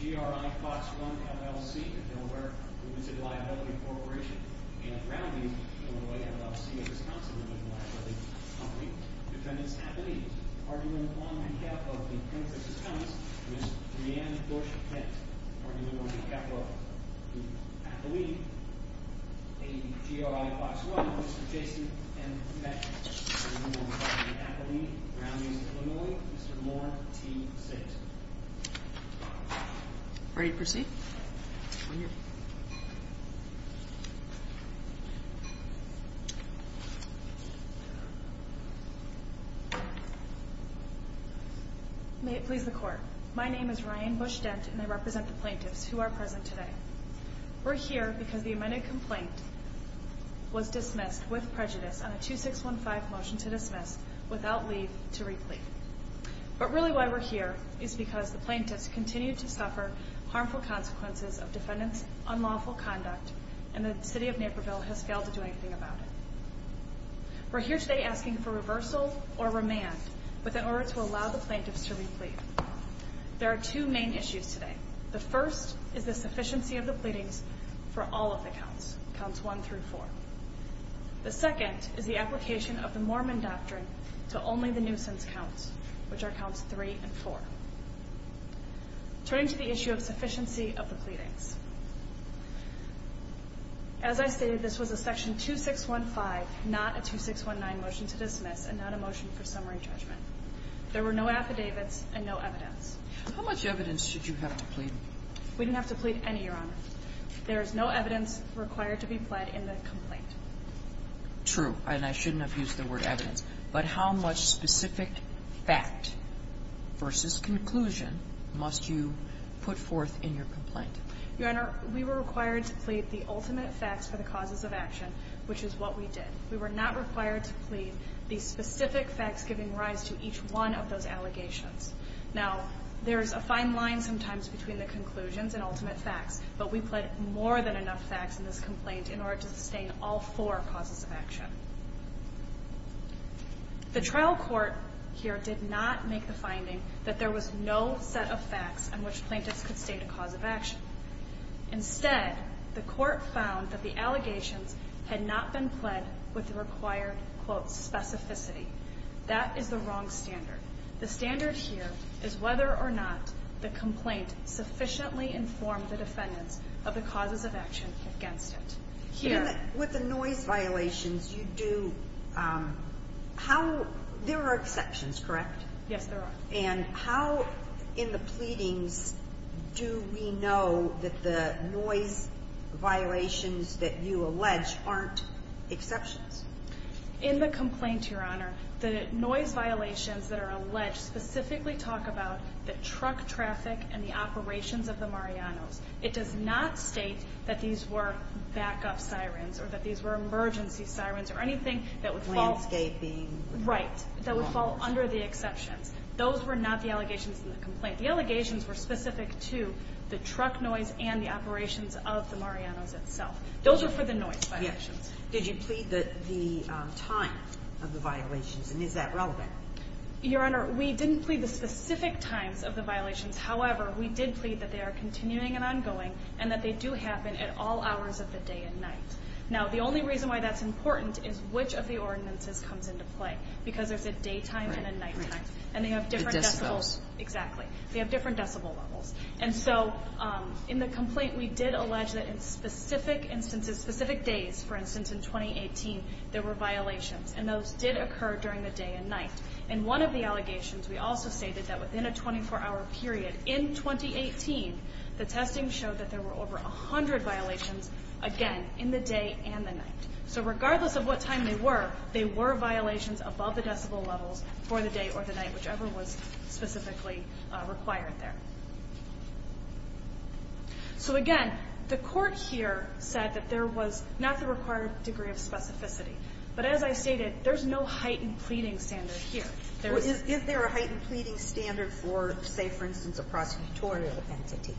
GRI Fox Run, LLC, the Delaware Women's Liability Corporation, and Brown v. Illinois LLC, a Wisconsin women's liability company. Defendant's athlete, argument on behalf of the plaintiff's defense, Ms. Leanne Bush Kent. Argument on behalf of the athlete, a GRI Fox Run, Mr. Jason M. Beck. Argument on behalf of the athlete, Brown v. Illinois, Mr. Mark T. Six. Ready to proceed? I'm here. May it please the court. My name is Ryan Bush Dent, and I represent the plaintiffs who are present today. We're here because the amended complaint was dismissed with prejudice on a 2615 motion to dismiss without leave to replete. But really why we're here is because the plaintiffs continue to suffer harmful consequences of defendant's unlawful conduct, and the city of Naperville has failed to do anything about it. We're here today asking for reversal or remand in order to allow the plaintiffs to replete. There are two main issues today. The first is the sufficiency of the pleadings for all of the counts, counts one through four. The second is the application of the Mormon doctrine to only the nuisance counts, which are counts three and four. Turning to the issue of sufficiency of the pleadings. As I stated, this was a section 2615, not a 2619 motion to dismiss, and not a motion for summary judgment. There were no affidavits and no evidence. How much evidence should you have to plead? We didn't have to plead any, Your Honor. There is no evidence required to be pled in the complaint. True. And I shouldn't have used the word evidence. But how much specific fact versus conclusion must you put forth in your complaint? Your Honor, we were required to plead the ultimate facts for the causes of action, which is what we did. We were not required to plead the specific facts giving rise to each one of those allegations. Now, there's a fine line sometimes between the conclusions and ultimate facts, but we pled more than enough facts in this complaint in order to sustain all four causes of action. The trial court here did not make the finding that there was no set of facts on which plaintiffs could state a cause of action. Instead, the court found that the allegations had not been pled with the required, quote, specificity. That is the wrong standard. The standard here is whether or not the complaint sufficiently informed the defendants of the causes of action against it. With the noise violations, you do – there are exceptions, correct? Yes, there are. And how in the pleadings do we know that the noise violations that you allege aren't exceptions? In the complaint, Your Honor, the noise violations that are alleged specifically talk about the truck traffic and the operations of the Marianos. It does not state that these were backup sirens or that these were emergency sirens or anything that would fall – Landscaping. Right. That would fall under the exceptions. Those were not the allegations in the complaint. The allegations were specific to the truck noise and the operations of the Marianos itself. Those are for the noise violations. Yes. Did you plead the time of the violations, and is that relevant? Your Honor, we didn't plead the specific times of the violations. However, we did plead that they are continuing and ongoing and that they do happen at all hours of the day and night. Now, the only reason why that's important is which of the ordinances comes into play, because there's a daytime and a nighttime. And they have different decibels. The decibels. Exactly. They have different decibel levels. And so in the complaint, we did allege that in specific instances, specific days, for instance, in 2018, there were violations. And those did occur during the day and night. In one of the allegations, we also stated that within a 24-hour period in 2018, the testing showed that there were over 100 violations, again, in the day and the night. So regardless of what time they were, they were violations above the decibel levels for the day or the night, whichever was specifically required there. So, again, the court here said that there was not the required degree of specificity. But as I stated, there's no heightened pleading standard here. Is there a heightened pleading standard for, say, for instance, a prosecutorial entity?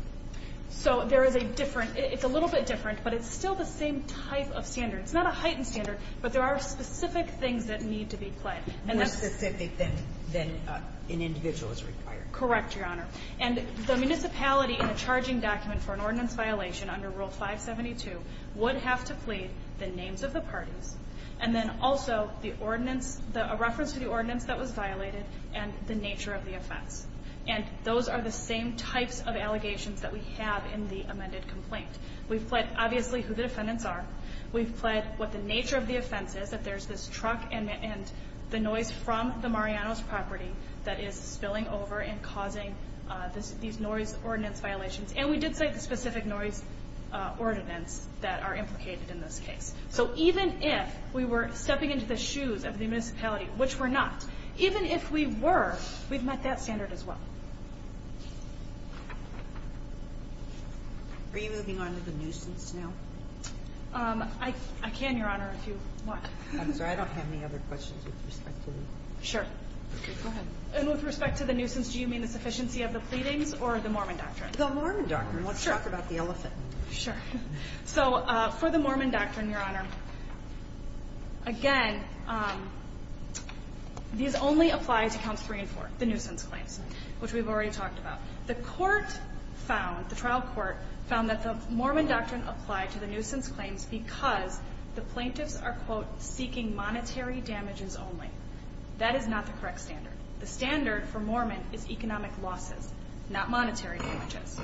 So there is a different – it's a little bit different, but it's still the same type of standard. It's not a heightened standard, but there are specific things that need to be pled. More specific than an individual is required. Correct, Your Honor. And the municipality in a charging document for an ordinance violation under Rule 572 would have to plead the names of the parties and then also the ordinance, a reference to the ordinance that was violated and the nature of the offense. And those are the same types of allegations that we have in the amended complaint. We've pled obviously who the defendants are. We've pled what the nature of the offense is, that there's this truck and the noise from the Mariano's property that is spilling over and causing these noise ordinance violations. And we did say the specific noise ordinance that are implicated in this case. So even if we were stepping into the shoes of the municipality, which we're not, even if we were, we've met that standard as well. Are you moving on to the nuisance now? I can, Your Honor, if you want. I'm sorry. I don't have any other questions with respect to that. Sure. Okay, go ahead. And with respect to the nuisance, do you mean the sufficiency of the pleadings or the Mormon doctrine? Let's talk about the elephant. Sure. So for the Mormon doctrine, Your Honor, again, these only apply to counts three and four, the nuisance claims, which we've already talked about. The court found, the trial court found that the Mormon doctrine applied to the nuisance claims because the plaintiffs are, quote, seeking monetary damages only. That is not the correct standard. The standard for Mormon is economic losses, not monetary damages.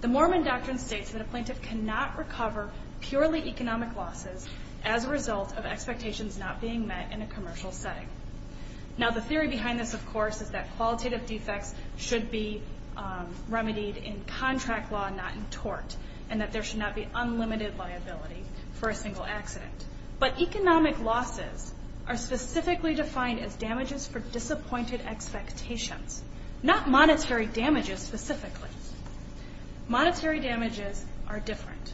The Mormon doctrine states that a plaintiff cannot recover purely economic losses as a result of expectations not being met in a commercial setting. Now, the theory behind this, of course, is that qualitative defects should be remedied in contract law, not in tort, and that there should not be unlimited liability for a single accident. But economic losses are specifically defined as damages for disappointed expectations, not monetary damages specifically. Monetary damages are different.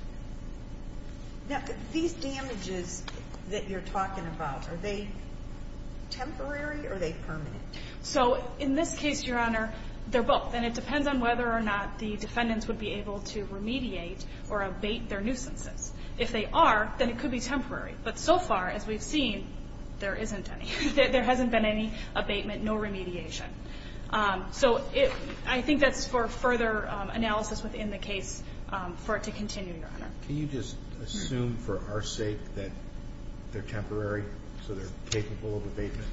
Now, these damages that you're talking about, are they temporary or are they permanent? So in this case, Your Honor, they're both, and it depends on whether or not the defendants would be able to remediate or abate their nuisances. If they are, then it could be temporary. But so far, as we've seen, there isn't any. There hasn't been any abatement, no remediation. So I think that's for further analysis within the case for it to continue, Your Honor. Can you just assume for our sake that they're temporary, so they're capable of abatement?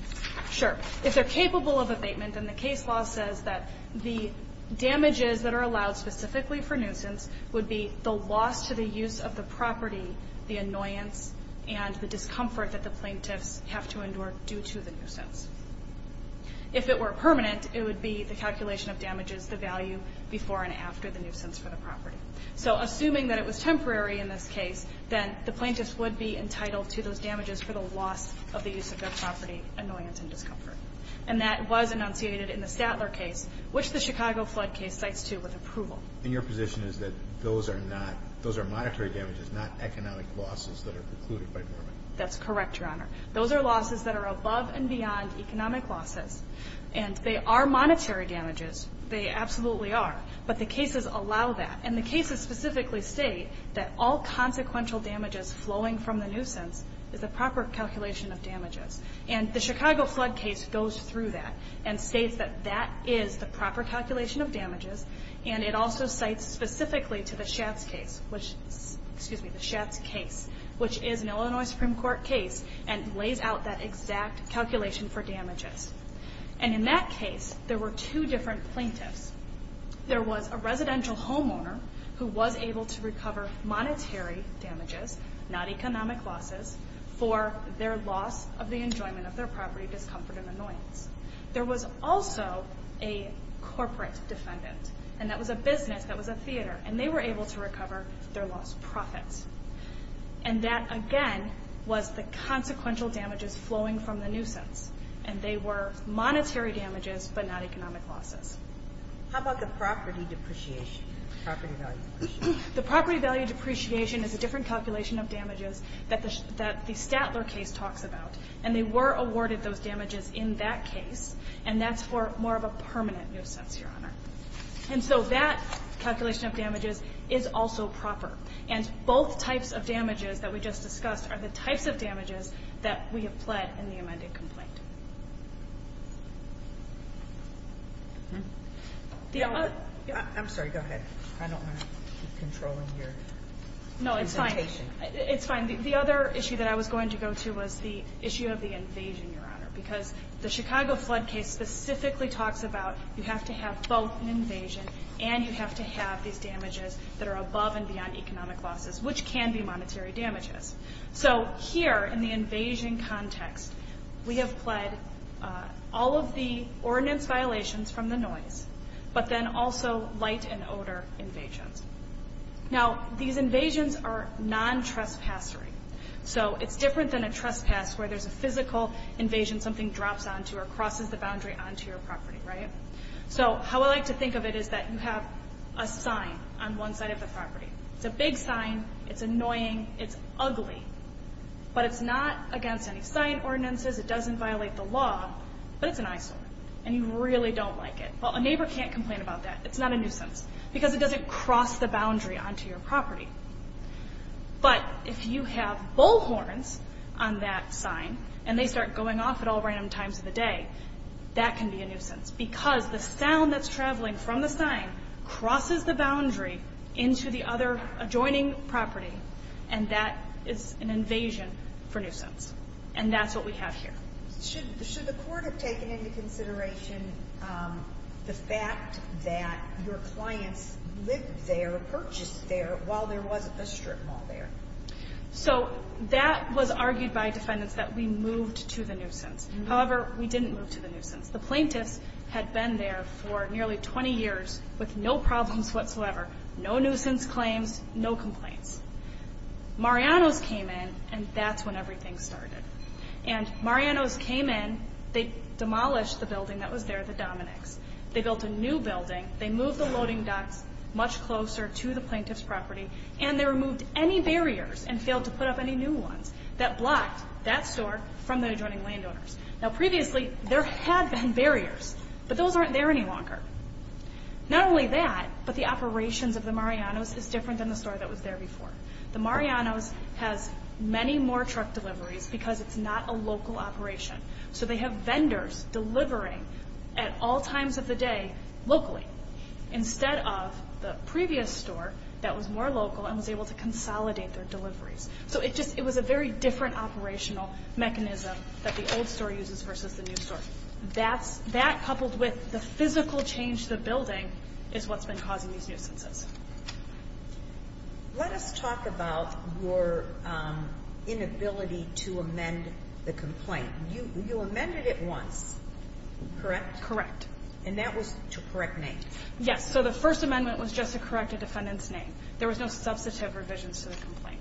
Sure. If they're capable of abatement, then the case law says that the damages that are allowed specifically for nuisance would be the loss to the use of the property, the annoyance, and the discomfort that the plaintiffs have to endure due to the nuisance. If it were permanent, it would be the calculation of damages, the value before and after the nuisance for the property. So assuming that it was temporary in this case, then the plaintiffs would be entitled to those damages for the loss of the use of their property, annoyance and discomfort. And that was enunciated in the Statler case, which the Chicago flood case cites, too, with approval. And your position is that those are not – those are monetary damages, not economic losses that are precluded by Norman? That's correct, Your Honor. Those are losses that are above and beyond economic losses. And they are monetary damages. They absolutely are. But the cases allow that. And the cases specifically state that all consequential damages flowing from the nuisance is a proper calculation of damages. And the Chicago flood case goes through that and states that that is the proper calculation of damages. And it also cites specifically to the Schatz case, which is an Illinois Supreme Court case, and lays out that exact calculation for damages. And in that case, there were two different plaintiffs. There was a residential homeowner who was able to recover monetary damages, not economic losses, for their loss of the enjoyment of their property, discomfort and annoyance. There was also a corporate defendant, and that was a business, that was a theater, and they were able to recover their lost profits. And that, again, was the consequential damages flowing from the nuisance. And they were monetary damages but not economic losses. How about the property depreciation, property value depreciation? The property value depreciation is a different calculation of damages that the Statler case talks about. And they were awarded those damages in that case, and that's for more of a permanent nuisance, Your Honor. And so that calculation of damages is also proper. And both types of damages that we just discussed are the types of damages that we have pled in the amended complaint. I'm sorry, go ahead. I don't want to keep controlling your presentation. No, it's fine. It's fine. The other issue that I was going to go to was the issue of the invasion, Your Honor, because the Chicago flood case specifically talks about you have to have both an invasion and you have to have these damages that are above and beyond economic losses, which can be monetary damages. So here in the invasion context, we have pled all of the ordinance violations from the noise, but then also light and odor invasions. Now, these invasions are non-trespassory. So it's different than a trespass where there's a physical invasion, something drops onto or crosses the boundary onto your property, right? So how I like to think of it is that you have a sign on one side of the property. It's a big sign. It's annoying. It's ugly. But it's not against any sign ordinances. It doesn't violate the law, but it's an eyesore, and you really don't like it. Well, a neighbor can't complain about that. It's not a nuisance because it doesn't cross the boundary onto your property. But if you have bullhorns on that sign and they start going off at all random times of the day, that can be a nuisance because the sound that's traveling from the sign crosses the boundary into the other adjoining property, and that is an invasion for nuisance. And that's what we have here. Should the court have taken into consideration the fact that your clients lived there or purchased there while there wasn't a strip mall there? So that was argued by defendants that we moved to the nuisance. However, we didn't move to the nuisance. The plaintiffs had been there for nearly 20 years with no problems whatsoever, no nuisance claims, no complaints. Mariano's came in, and that's when everything started. And Mariano's came in, they demolished the building that was there, the Dominick's. They built a new building. They moved the loading docks much closer to the plaintiff's property, and they removed any barriers and failed to put up any new ones that blocked that store from the adjoining landowners. Now, previously there had been barriers, but those aren't there any longer. Not only that, but the operations of the Mariano's is different than the store that was there before. The Mariano's has many more truck deliveries because it's not a local operation. So they have vendors delivering at all times of the day locally instead of the previous store that was more local and was able to consolidate their deliveries. So it was a very different operational mechanism that the old store uses versus the new store. That coupled with the physical change to the building is what's been causing these nuisances. Let us talk about your inability to amend the complaint. You amended it once, correct? Correct. And that was to correct names. Yes. So the first amendment was just to correct a defendant's name. There was no substantive revisions to the complaint.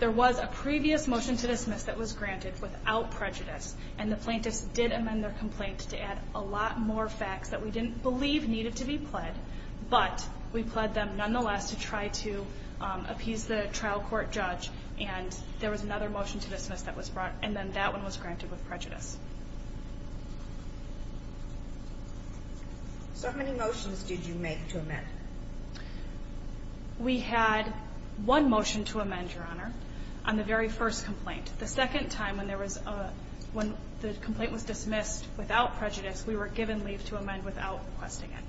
There was a previous motion to dismiss that was granted without prejudice, and the plaintiffs did amend their complaint to add a lot more facts that we didn't believe needed to be pled, but we pled them nonetheless to try to appease the trial court judge. And there was another motion to dismiss that was brought, and then that one was granted with prejudice. So how many motions did you make to amend? We had one motion to amend, Your Honor, on the very first complaint. The second time when the complaint was dismissed without prejudice, we were given leave to amend without requesting it.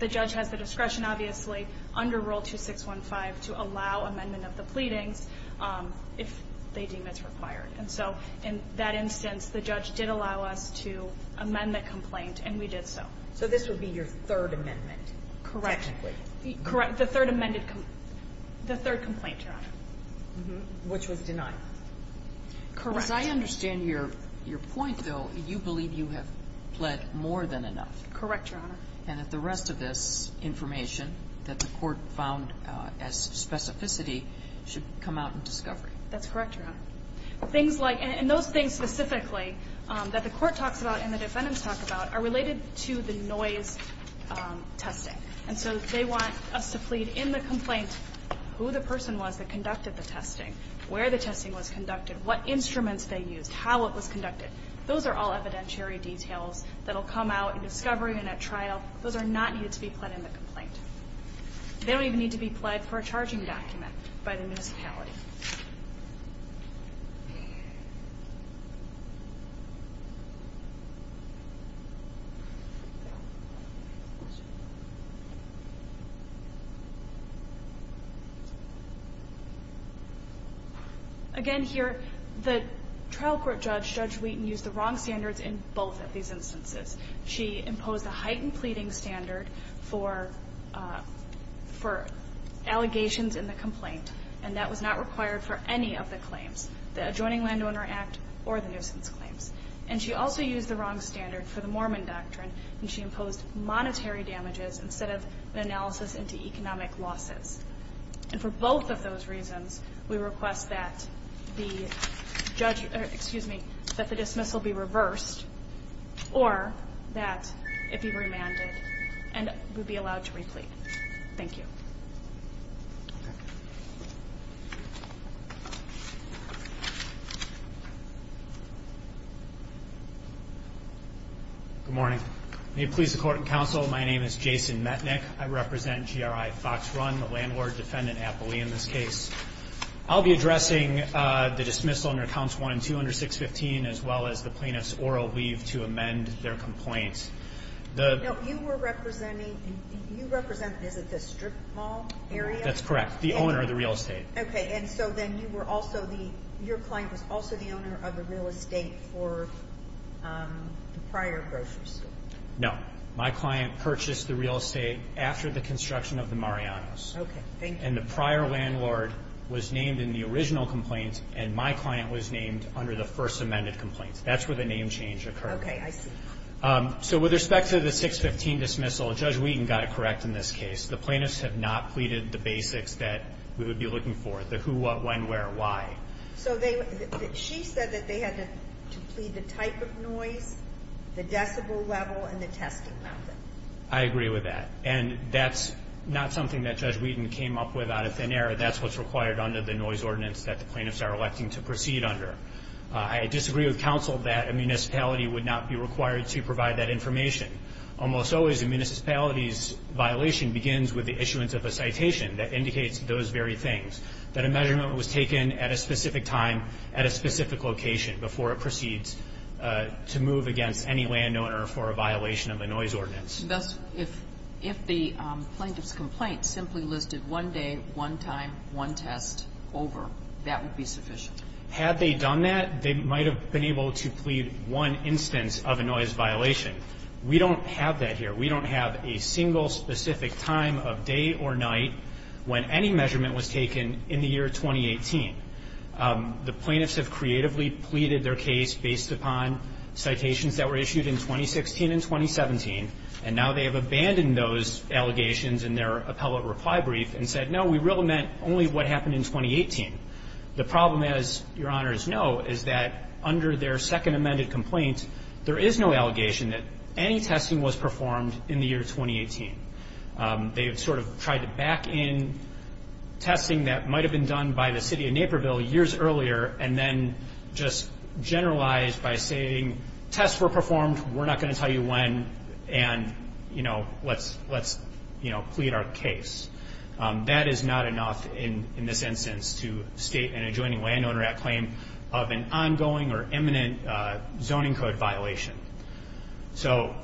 The judge has the discretion, obviously, under Rule 2615 to allow amendment of the pleadings if they deem it's required. And so in that instance, the judge did allow us to amend the complaint, and we did so. So this would be your third amendment, technically? Correct. The third amended complaint. The third complaint, Your Honor. Which was denied. Correct. Because I understand your point, though. You believe you have pled more than enough. Correct, Your Honor. And that the rest of this information that the court found as specificity should come out in discovery. That's correct, Your Honor. Things like – and those things specifically that the court talks about and the defendants talk about are related to the noise testing. And so they want us to plead in the complaint who the person was that conducted the testing, where the testing was conducted, what instruments they used, how it was conducted. Those are all evidentiary details that will come out in discovery and at trial. Those are not needed to be pled in the complaint. They don't even need to be pled for a charging document by the municipality. Again here, the trial court judge, Judge Wheaton, used the wrong standards in both of these instances. She imposed a heightened pleading standard for allegations in the complaint, and that was not required for any of the claims, the Adjoining Landowner Act or the nuisance claims. And she also used the wrong standard for the Mormon doctrine, and she imposed monetary damages instead of an analysis into economic losses. And for both of those reasons, we request that the judge – or, excuse me, that the dismissal be reversed or that it be remanded and we be allowed to replete. Thank you. Good morning. May it please the court and counsel, my name is Jason Metnick. I represent GRI Fox Run, the landlord-defendant appellee in this case. I'll be addressing the dismissal under Council 1-200-615 as well as the plaintiff's oral leave to amend their complaint. No, you were representing – you represent – is it the strip mall area? That's correct. The owner of the real estate. Okay. And so then you were also the – your client was also the owner of the real estate for the prior grocery store? No. My client purchased the real estate after the construction of the Mariano's. Okay. Thank you. And the prior landlord was named in the original complaint, and my client was named under the first amended complaint. That's where the name change occurred. Okay. I see. So with respect to the 615 dismissal, Judge Wheaton got it correct in this case. The plaintiffs have not pleaded the basics that we would be looking for, the who, what, when, where, why. So they – she said that they had to plead the type of noise, the decibel level, and the testing method. I agree with that. And that's not something that Judge Wheaton came up with out of thin air. That's what's required under the noise ordinance that the plaintiffs are electing to proceed under. I disagree with counsel that a municipality would not be required to provide that information. Almost always a municipality's violation begins with the issuance of a citation that indicates those very things, that a measurement was taken at a specific time, at a specific location, before it proceeds to move against any landowner for a violation of a noise ordinance. Thus, if the plaintiff's complaint simply listed one day, one time, one test over, that would be sufficient? Had they done that, they might have been able to plead one instance of a noise violation. We don't have that here. We don't have a single specific time of day or night when any measurement was taken in the year 2018. The plaintiffs have creatively pleaded their case based upon citations that were issued in 2016 and 2017, and now they have abandoned those allegations in their appellate reply brief and said, no, we really meant only what happened in 2018. The problem, as Your Honors know, is that under their second amended complaint, there is no allegation that any testing was performed in the year 2018. They have sort of tried to back in testing that might have been done by the city of Naperville years earlier and then just generalized by saying, tests were performed, we're not going to tell you when, and, you know, let's plead our case. That is not enough in this instance to state an adjoining landowner at claim of an ongoing or imminent zoning code violation. So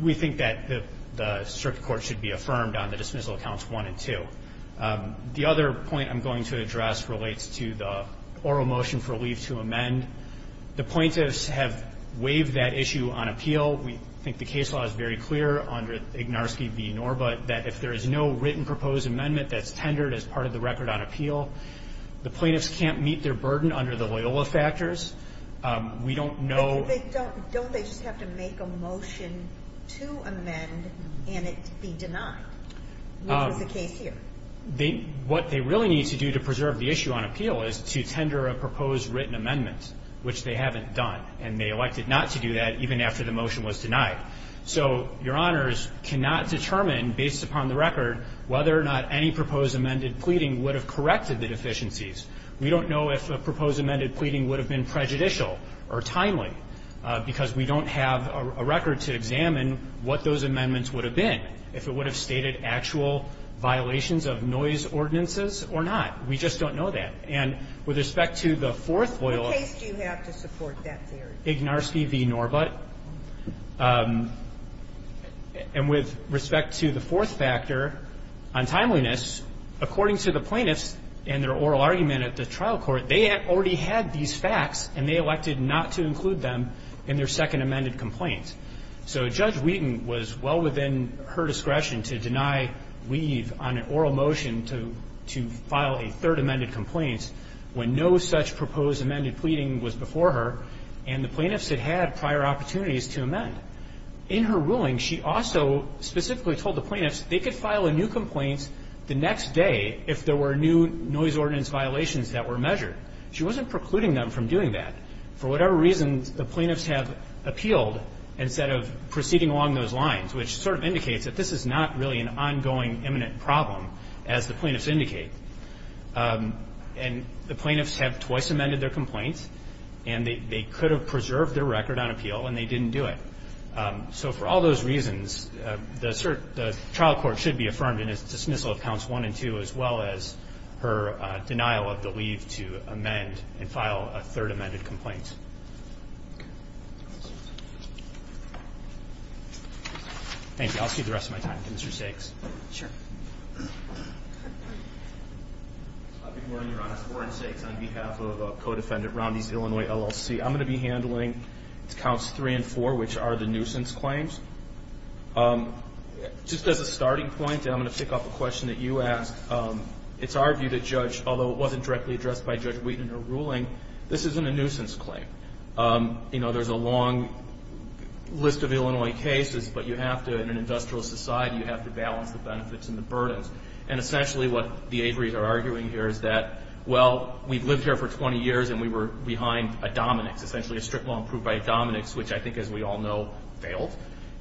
we think that the circuit court should be affirmed on the dismissal accounts 1 and 2. The other point I'm going to address relates to the oral motion for leave to amend. The plaintiffs have waived that issue on appeal. We think the case law is very clear under Ignarski v. Norbutt that if there is no written proposed amendment that's tendered as part of the record on appeal, the plaintiffs can't meet their burden under the Loyola factors. We don't know. Don't they just have to make a motion to amend and it be denied, which is the case here? What they really need to do to preserve the issue on appeal is to tender a proposed written amendment, which they haven't done, and they elected not to do that even after the motion was denied. So your honors cannot determine based upon the record whether or not any proposed amended pleading would have corrected the deficiencies. We don't know if a proposed amended pleading would have been prejudicial or timely, because we don't have a record to examine what those amendments would have been, if it would have stated actual violations of noise ordinances or not. We just don't know that. And with respect to the fourth Loyola ---- What case do you have to support that theory? Ignarski v. Norbutt. And with respect to the fourth factor on timeliness, according to the plaintiffs and their oral argument at the trial court, they already had these facts and they elected not to include them in their second amended complaint. So Judge Wheaton was well within her discretion to deny leave on an oral motion to file a third amended complaint when no such proposed amended pleading was before her and the plaintiffs had had prior opportunities to amend. In her ruling, she also specifically told the plaintiffs they could file a new complaint the next day if there were new noise ordinance violations that were measured. She wasn't precluding them from doing that. For whatever reason, the plaintiffs have appealed instead of proceeding along those lines, which sort of indicates that this is not really an ongoing, imminent problem, as the plaintiffs indicate. And the plaintiffs have twice amended their complaints and they could have preserved their record on appeal and they didn't do it. So for all those reasons, the trial court should be affirmed in its dismissal of counts one and two as well as her denial of the leave to amend and file a third amended complaint. Thank you. I'll just give the rest of my time to Mr. Stakes. Sure. Good morning, Your Honor. Warren Stakes on behalf of a co-defendant, Romney's Illinois LLC. I'm going to be handling counts three and four, which are the nuisance claims. Just as a starting point, I'm going to pick up a question that you asked. It's argued that Judge, although it wasn't directly addressed by Judge Wheaton in her ruling, this isn't a nuisance claim. You know, there's a long list of Illinois cases, but you have to, in an industrial society, you have to balance the benefits and the burdens. And essentially what the Avery's are arguing here is that, well, we've lived here for 20 years and we were behind a dominix, essentially a strict law approved by a dominix, which I think, as we all know, failed.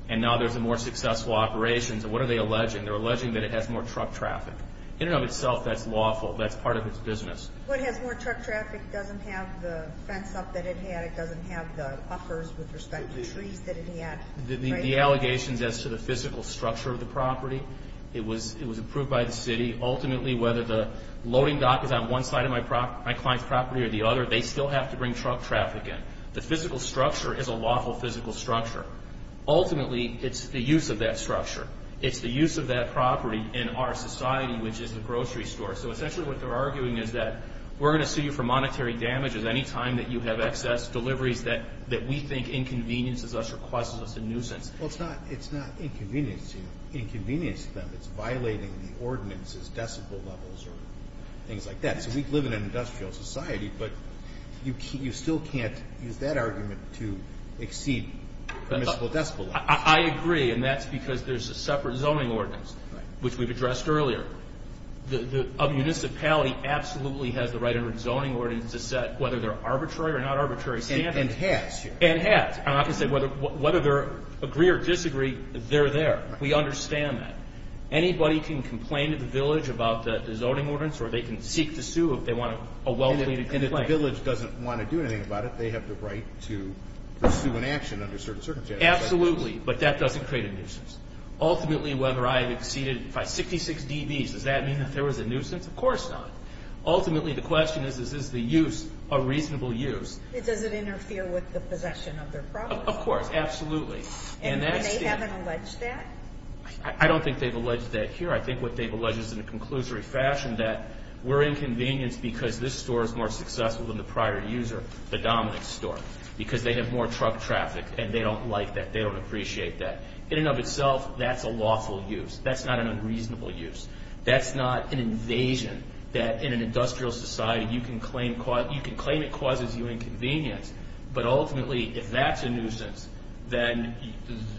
And now there's a more successful operation. So what are they alleging? They're alleging that it has more truck traffic. In and of itself, that's lawful. That's part of its business. Well, it has more truck traffic. It doesn't have the fence up that it had. It doesn't have the uppers with respect to trees that it had. The allegations as to the physical structure of the property, it was approved by the city. Ultimately, whether the loading dock is on one side of my client's property or the other, they still have to bring truck traffic in. The physical structure is a lawful physical structure. Ultimately, it's the use of that structure. It's the use of that property in our society, which is the grocery store. So essentially what they're arguing is that we're going to sue you for monetary damages any time that you have excess deliveries that we think inconveniences us or causes us a nuisance. Well, it's not inconveniencing them. It's violating the ordinance's decibel levels or things like that. So we live in an industrial society, but you still can't use that argument to exceed permissible decibel levels. I agree, and that's because there's a separate zoning ordinance, which we've addressed earlier. A municipality absolutely has the right under its zoning ordinance to set whether they're arbitrary or not arbitrary standards. And has. And has. I'm not going to say whether they agree or disagree. They're there. We understand that. Anybody can complain to the village about the zoning ordinance, or they can seek to sue if they want a well-pleaded complaint. And if the village doesn't want to do anything about it, they have the right to pursue an action under certain circumstances. Absolutely, but that doesn't create a nuisance. Ultimately, whether I've exceeded by 66 dBs, does that mean that there was a nuisance? Of course not. Ultimately, the question is, is the use a reasonable use? Does it interfere with the possession of their property? Of course. Absolutely. And they haven't alleged that? I don't think they've alleged that here. I think what they've alleged is in a conclusory fashion that we're inconvenienced because this store is more successful than the prior user, the Dominick's store, because they have more truck traffic, and they don't like that. They don't appreciate that. In and of itself, that's a lawful use. That's not an unreasonable use. That's not an invasion that in an industrial society you can claim it causes you inconvenience. But ultimately, if that's a nuisance, then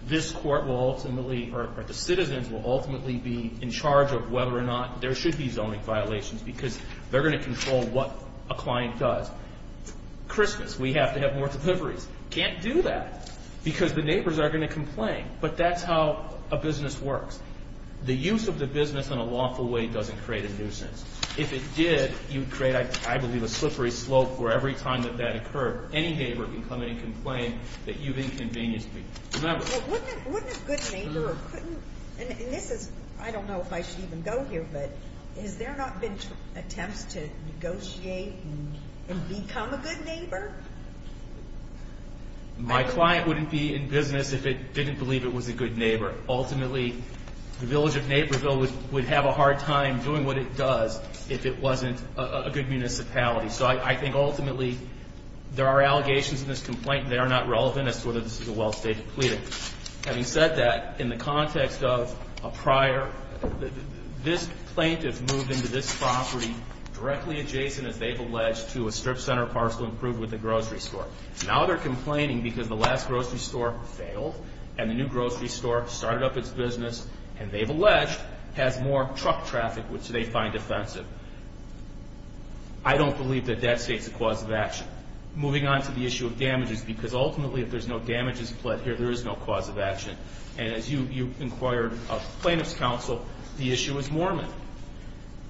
this court will ultimately or the citizens will ultimately be in charge of whether or not there should be zoning violations because they're going to control what a client does. Christmas, we have to have more deliveries. Can't do that because the neighbors are going to complain. But that's how a business works. The use of the business in a lawful way doesn't create a nuisance. If it did, you'd create, I believe, a slippery slope where every time that that occurred, any neighbor can come in and complain that you've inconvenienced me. Wouldn't a good neighbor or couldn't? And this is, I don't know if I should even go here, but has there not been attempts to negotiate and become a good neighbor? My client wouldn't be in business if it didn't believe it was a good neighbor. Ultimately, the village of Naperville would have a hard time doing what it does if it wasn't a good municipality. So I think ultimately there are allegations in this complaint that are not relevant as to whether this is a well-stated plea. Having said that, in the context of a prior, this plaintiff moved into this property directly adjacent, as they've alleged, to a strip center parcel improved with a grocery store. Now they're complaining because the last grocery store failed and the new grocery store started up its business, and they've alleged, has more truck traffic, which they find offensive. I don't believe that that states a cause of action. Moving on to the issue of damages, because ultimately if there's no damages pled here, there is no cause of action. And as you inquired of plaintiff's counsel, the issue is Mormon.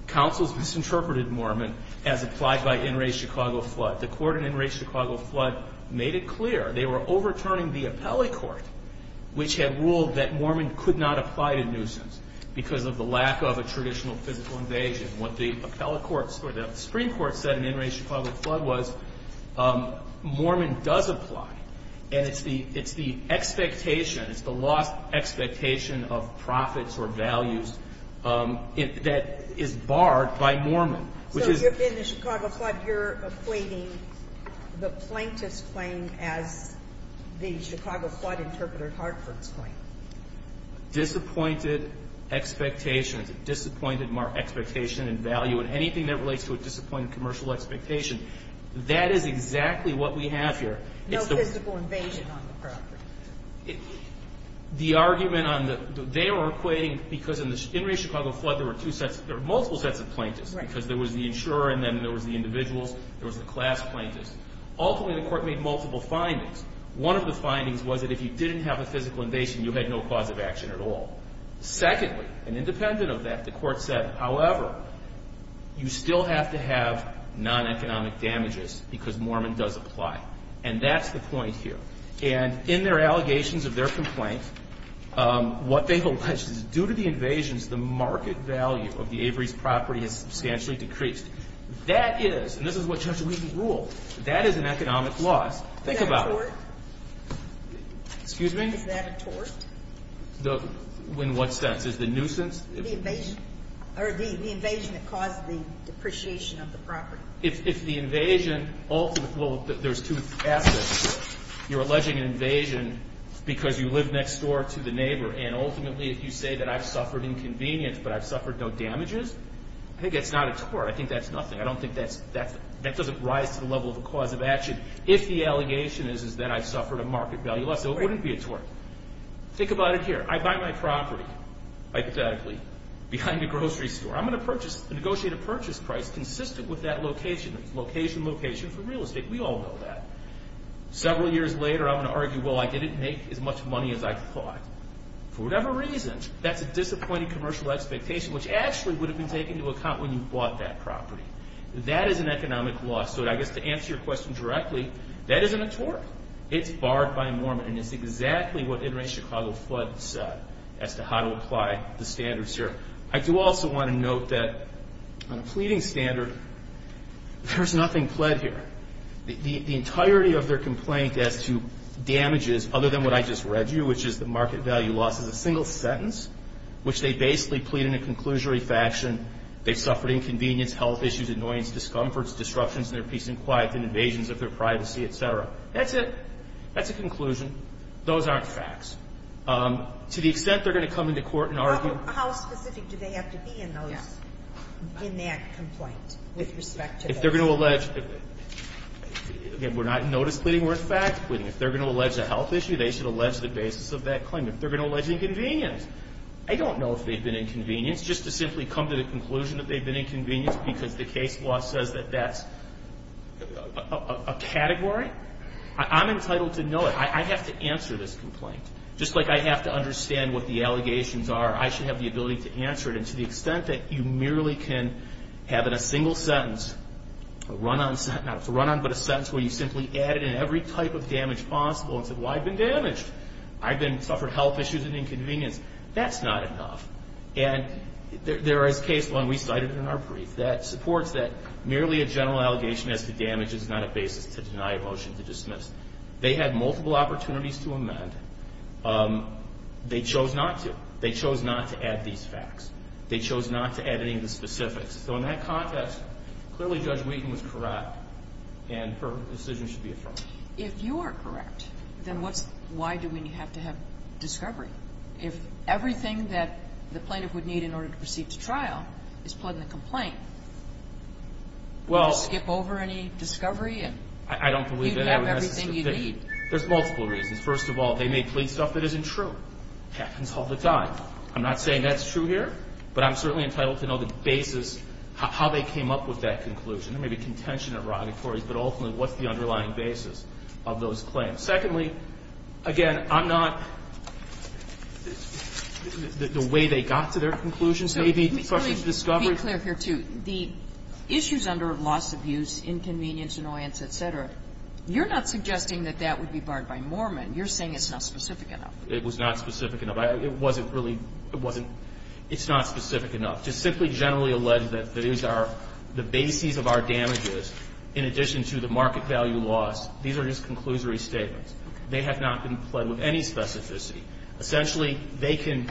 Counsel's misinterpreted Mormon as applied by Enrage Chicago Flood. The court in Enrage Chicago Flood made it clear they were overturning the appellate court, which had ruled that Mormon could not apply to nuisance because of the lack of a traditional physical invasion. What the appellate court, or the Supreme Court, said in Enrage Chicago Flood was Mormon does apply, and it's the expectation, it's the lost expectation of profits or values that is barred by Mormon. So in the Chicago Flood you're equating the plaintiff's claim as the Chicago Flood interpreter Hartford's claim. Disappointed expectations. Disappointed expectation in value in anything that relates to a disappointed commercial expectation. That is exactly what we have here. No physical invasion on the property. The argument on the, they are equating, because in the Enrage Chicago Flood there were two sets, there were multiple sets of plaintiffs, because there was the insurer and then there was the individuals, there was the class plaintiffs. Ultimately the court made multiple findings. One of the findings was that if you didn't have a physical invasion you had no cause of action at all. Secondly, and independent of that, the court said, however, you still have to have non-economic damages because Mormon does apply. And that's the point here. And in their allegations of their complaint, what they've alleged is due to the invasions, the market value of the Avery's property has substantially decreased. That is, and this is what Judge Wheaton ruled, that is an economic loss. Think about it. Is that a tort? Excuse me? Is that a tort? In what sense? Is the nuisance? The invasion. Or the invasion that caused the depreciation of the property. If the invasion ultimately, well, there's two aspects. You're alleging an invasion because you live next door to the neighbor and ultimately if you say that I've suffered inconvenience but I've suffered no damages, I think that's not a tort. I think that's nothing. I don't think that's, that doesn't rise to the level of a cause of action if the allegation is that I've suffered a market value loss. So it wouldn't be a tort. Think about it here. I buy my property, hypothetically, behind a grocery store. I'm going to purchase, negotiate a purchase price consistent with that location, location, location for real estate. We all know that. Several years later, I'm going to argue, well, I didn't make as much money as I thought. For whatever reason, that's a disappointing commercial expectation which actually would have been taken into account when you bought that property. That is an economic loss. So I guess to answer your question directly, that isn't a tort. It's barred by a mormon. And it's exactly what Interstate Chicago flood said as to how to apply the standards here. I do also want to note that on a pleading standard, there's nothing pled here. The entirety of their complaint as to damages other than what I just read you, which is the market value loss, is a single sentence, which they basically plead in a conclusionary faction. They've suffered inconvenience, health issues, annoyance, discomforts, disruptions in their peace and quiet, and invasions of their privacy, et cetera. That's it. That's a conclusion. Those aren't facts. To the extent they're going to come into court and argue ---- How specific do they have to be in those, in that complaint with respect to that? They're going to allege ---- Again, we're not notice pleading. We're in fact pleading. If they're going to allege a health issue, they should allege the basis of that claim. If they're going to allege inconvenience, I don't know if they've been inconvenienced. Just to simply come to the conclusion that they've been inconvenienced because the case law says that that's a category, I'm entitled to know it. I have to answer this complaint. Just like I have to understand what the allegations are, I should have the ability to answer it. And to the extent that you merely can have in a single sentence a run-on sentence, not a run-on but a sentence where you simply added in every type of damage possible and said, well, I've been damaged. I've suffered health issues and inconvenience. That's not enough. And there is a case law, and we cited it in our brief, that supports that merely a general allegation as to damage is not a basis to deny a motion to dismiss. They had multiple opportunities to amend. They chose not to. They chose not to add these facts. They chose not to add any of the specifics. So in that context, clearly Judge Wheaton was correct, and her decision should be affirmed. If you are correct, then why do we have to have discovery? If everything that the plaintiff would need in order to proceed to trial is put in the complaint, would you skip over any discovery? I don't believe that. You'd have everything you'd need. There's multiple reasons. First of all, they may plead stuff that isn't true. It happens all the time. I'm not saying that's true here, but I'm certainly entitled to know the basis, how they came up with that conclusion. There may be contention and erogatories, but ultimately, what's the underlying basis of those claims? Secondly, again, I'm not the way they got to their conclusions. Maybe questions of discovery. So let me be clear here, too. The issues under loss of use, inconvenience, annoyance, et cetera, you're not suggesting that that would be barred by Mormon. You're saying it's not specific enough. It was not specific enough. It wasn't really – it wasn't – it's not specific enough. To simply generally allege that these are the bases of our damages in addition to the market value loss, these are just conclusory statements. They have not been pled with any specificity. Essentially, they can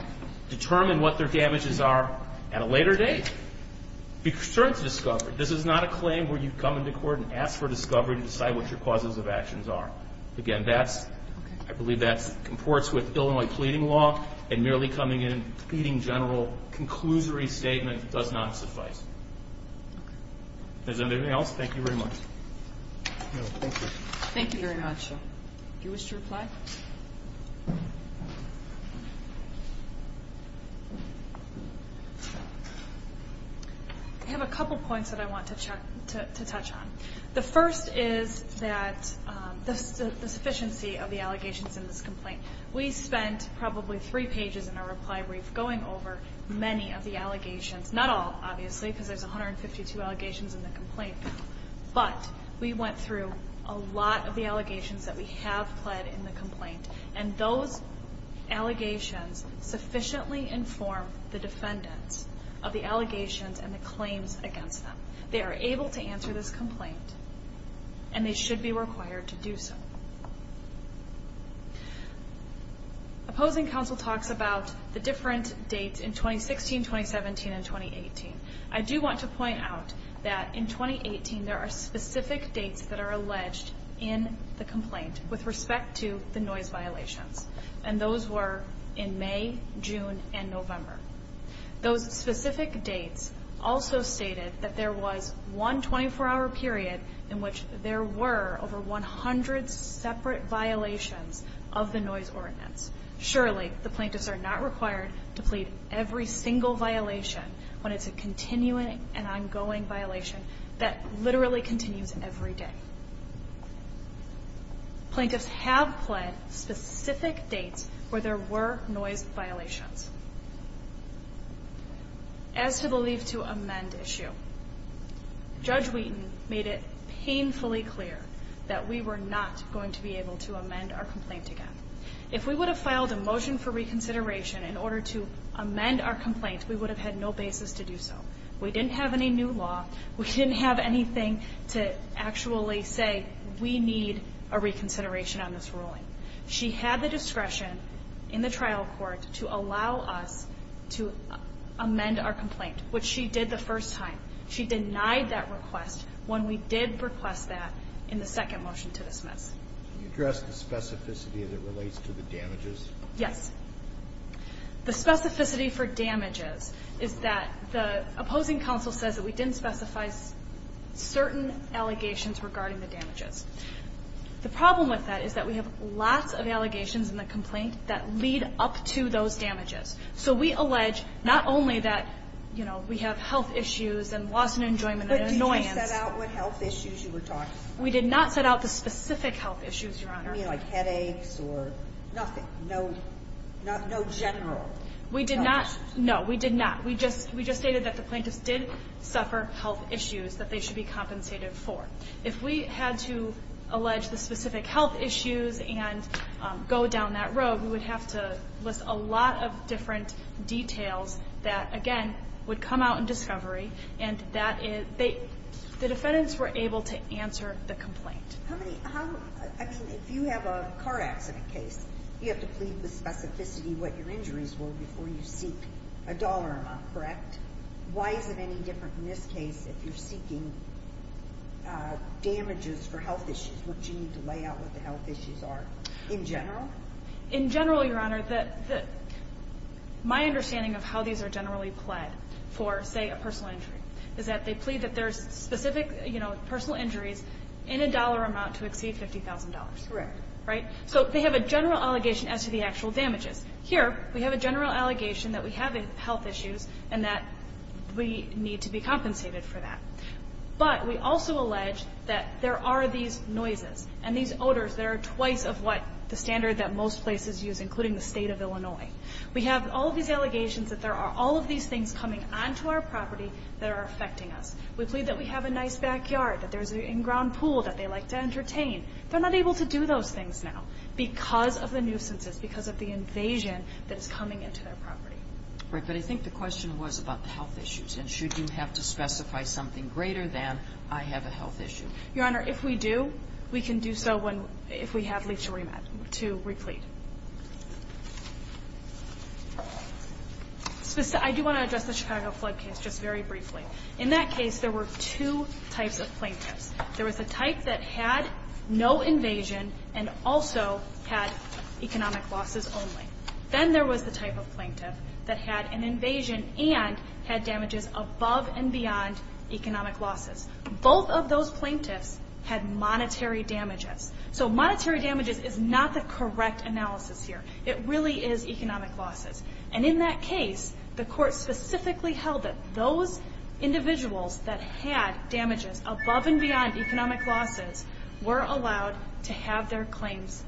determine what their damages are at a later date. Be concerned to discover. This is not a claim where you come into court and ask for discovery to decide what your causes of actions are. Again, that's – I believe that comports with Illinois pleading law, and merely coming in and pleading general, conclusory statement does not suffice. Is there anything else? Thank you very much. Thank you. Thank you very much. Do you wish to reply? I have a couple points that I want to touch on. The first is that – the sufficiency of the allegations in this complaint. We spent probably three pages in our reply brief going over many of the allegations. Not all, obviously, because there's 152 allegations in the complaint. But we went through a lot of the allegations that we have pled in the complaint, and those allegations sufficiently inform the defendants of the allegations and the claims against them. They are able to answer this complaint, and they should be required to do so. Opposing counsel talks about the different dates in 2016, 2017, and 2018. I do want to point out that in 2018 there are specific dates that are alleged in the complaint with respect to the noise violations, and those were in May, June, and November. Those specific dates also stated that there was one 24-hour period in which there were over 100 separate violations of the noise ordinance. Surely the plaintiffs are not required to plead every single violation when it's a continuing and ongoing violation that literally continues every day. Plaintiffs have pled specific dates where there were noise violations. As to the leave to amend issue, Judge Wheaton made it painfully clear that we were not going to be able to amend our complaint again. If we would have filed a motion for reconsideration in order to amend our complaint, we would have had no basis to do so. We didn't have any new law. We didn't have anything to actually say we need a reconsideration on this ruling. She had the discretion in the trial court to allow us to amend our complaint, which she did the first time. She denied that request when we did request that in the second motion to dismiss. Can you address the specificity that relates to the damages? Yes. The specificity for damages is that the opposing counsel says that we didn't specify certain allegations regarding the damages. The problem with that is that we have lots of allegations in the complaint that lead up to those damages. So we allege not only that we have health issues and loss and enjoyment and annoyance. But did you set out what health issues you were talking about? We did not set out the specific health issues, Your Honor. You mean like headaches or nothing? No general. We did not. No, we did not. We just stated that the plaintiffs did suffer health issues that they should be compensated for. If we had to allege the specific health issues and go down that road, we would have to list a lot of different details that, again, would come out in discovery. And the defendants were able to answer the complaint. If you have a car accident case, you have to plead with specificity what your injuries were before you seek a dollar amount, correct? Why is it any different in this case if you're seeking damages for health issues? Would you need to lay out what the health issues are in general? In general, Your Honor, my understanding of how these are generally pled for, say, a personal injury, is that they plead that there's specific personal injuries in a dollar amount to exceed $50,000. Correct. Right? So they have a general allegation as to the actual damages. Here we have a general allegation that we have health issues and that we need to be compensated for that. But we also allege that there are these noises and these odors that are twice of what the standard that most places use, including the State of Illinois. We have all of these allegations that there are all of these things coming onto our property that are affecting us. We plead that we have a nice backyard, that there's an in-ground pool that they like to entertain. They're not able to do those things now because of the nuisances, because of the invasion that is coming into their property. Right. But I think the question was about the health issues, and should you have to specify something greater than I have a health issue? Your Honor, if we do, we can do so when we have leach remand to replete. I do want to address the Chicago flood case just very briefly. In that case, there were two types of plaintiffs. There was the type that had no invasion and also had economic losses only. Then there was the type of plaintiff that had an invasion and had damages above and beyond economic losses. Both of those plaintiffs had monetary damages. So monetary damages is not the correct analogy. It really is economic losses. In that case, the court specifically held that those individuals that had damages above and beyond economic losses were allowed to have their claims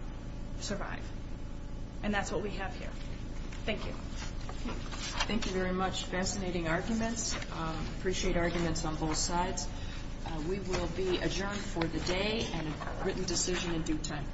survive. That's what we have here. Thank you. Thank you very much. Fascinating arguments. Appreciate arguments on both sides. We will be adjourned for the day and written decision in due time.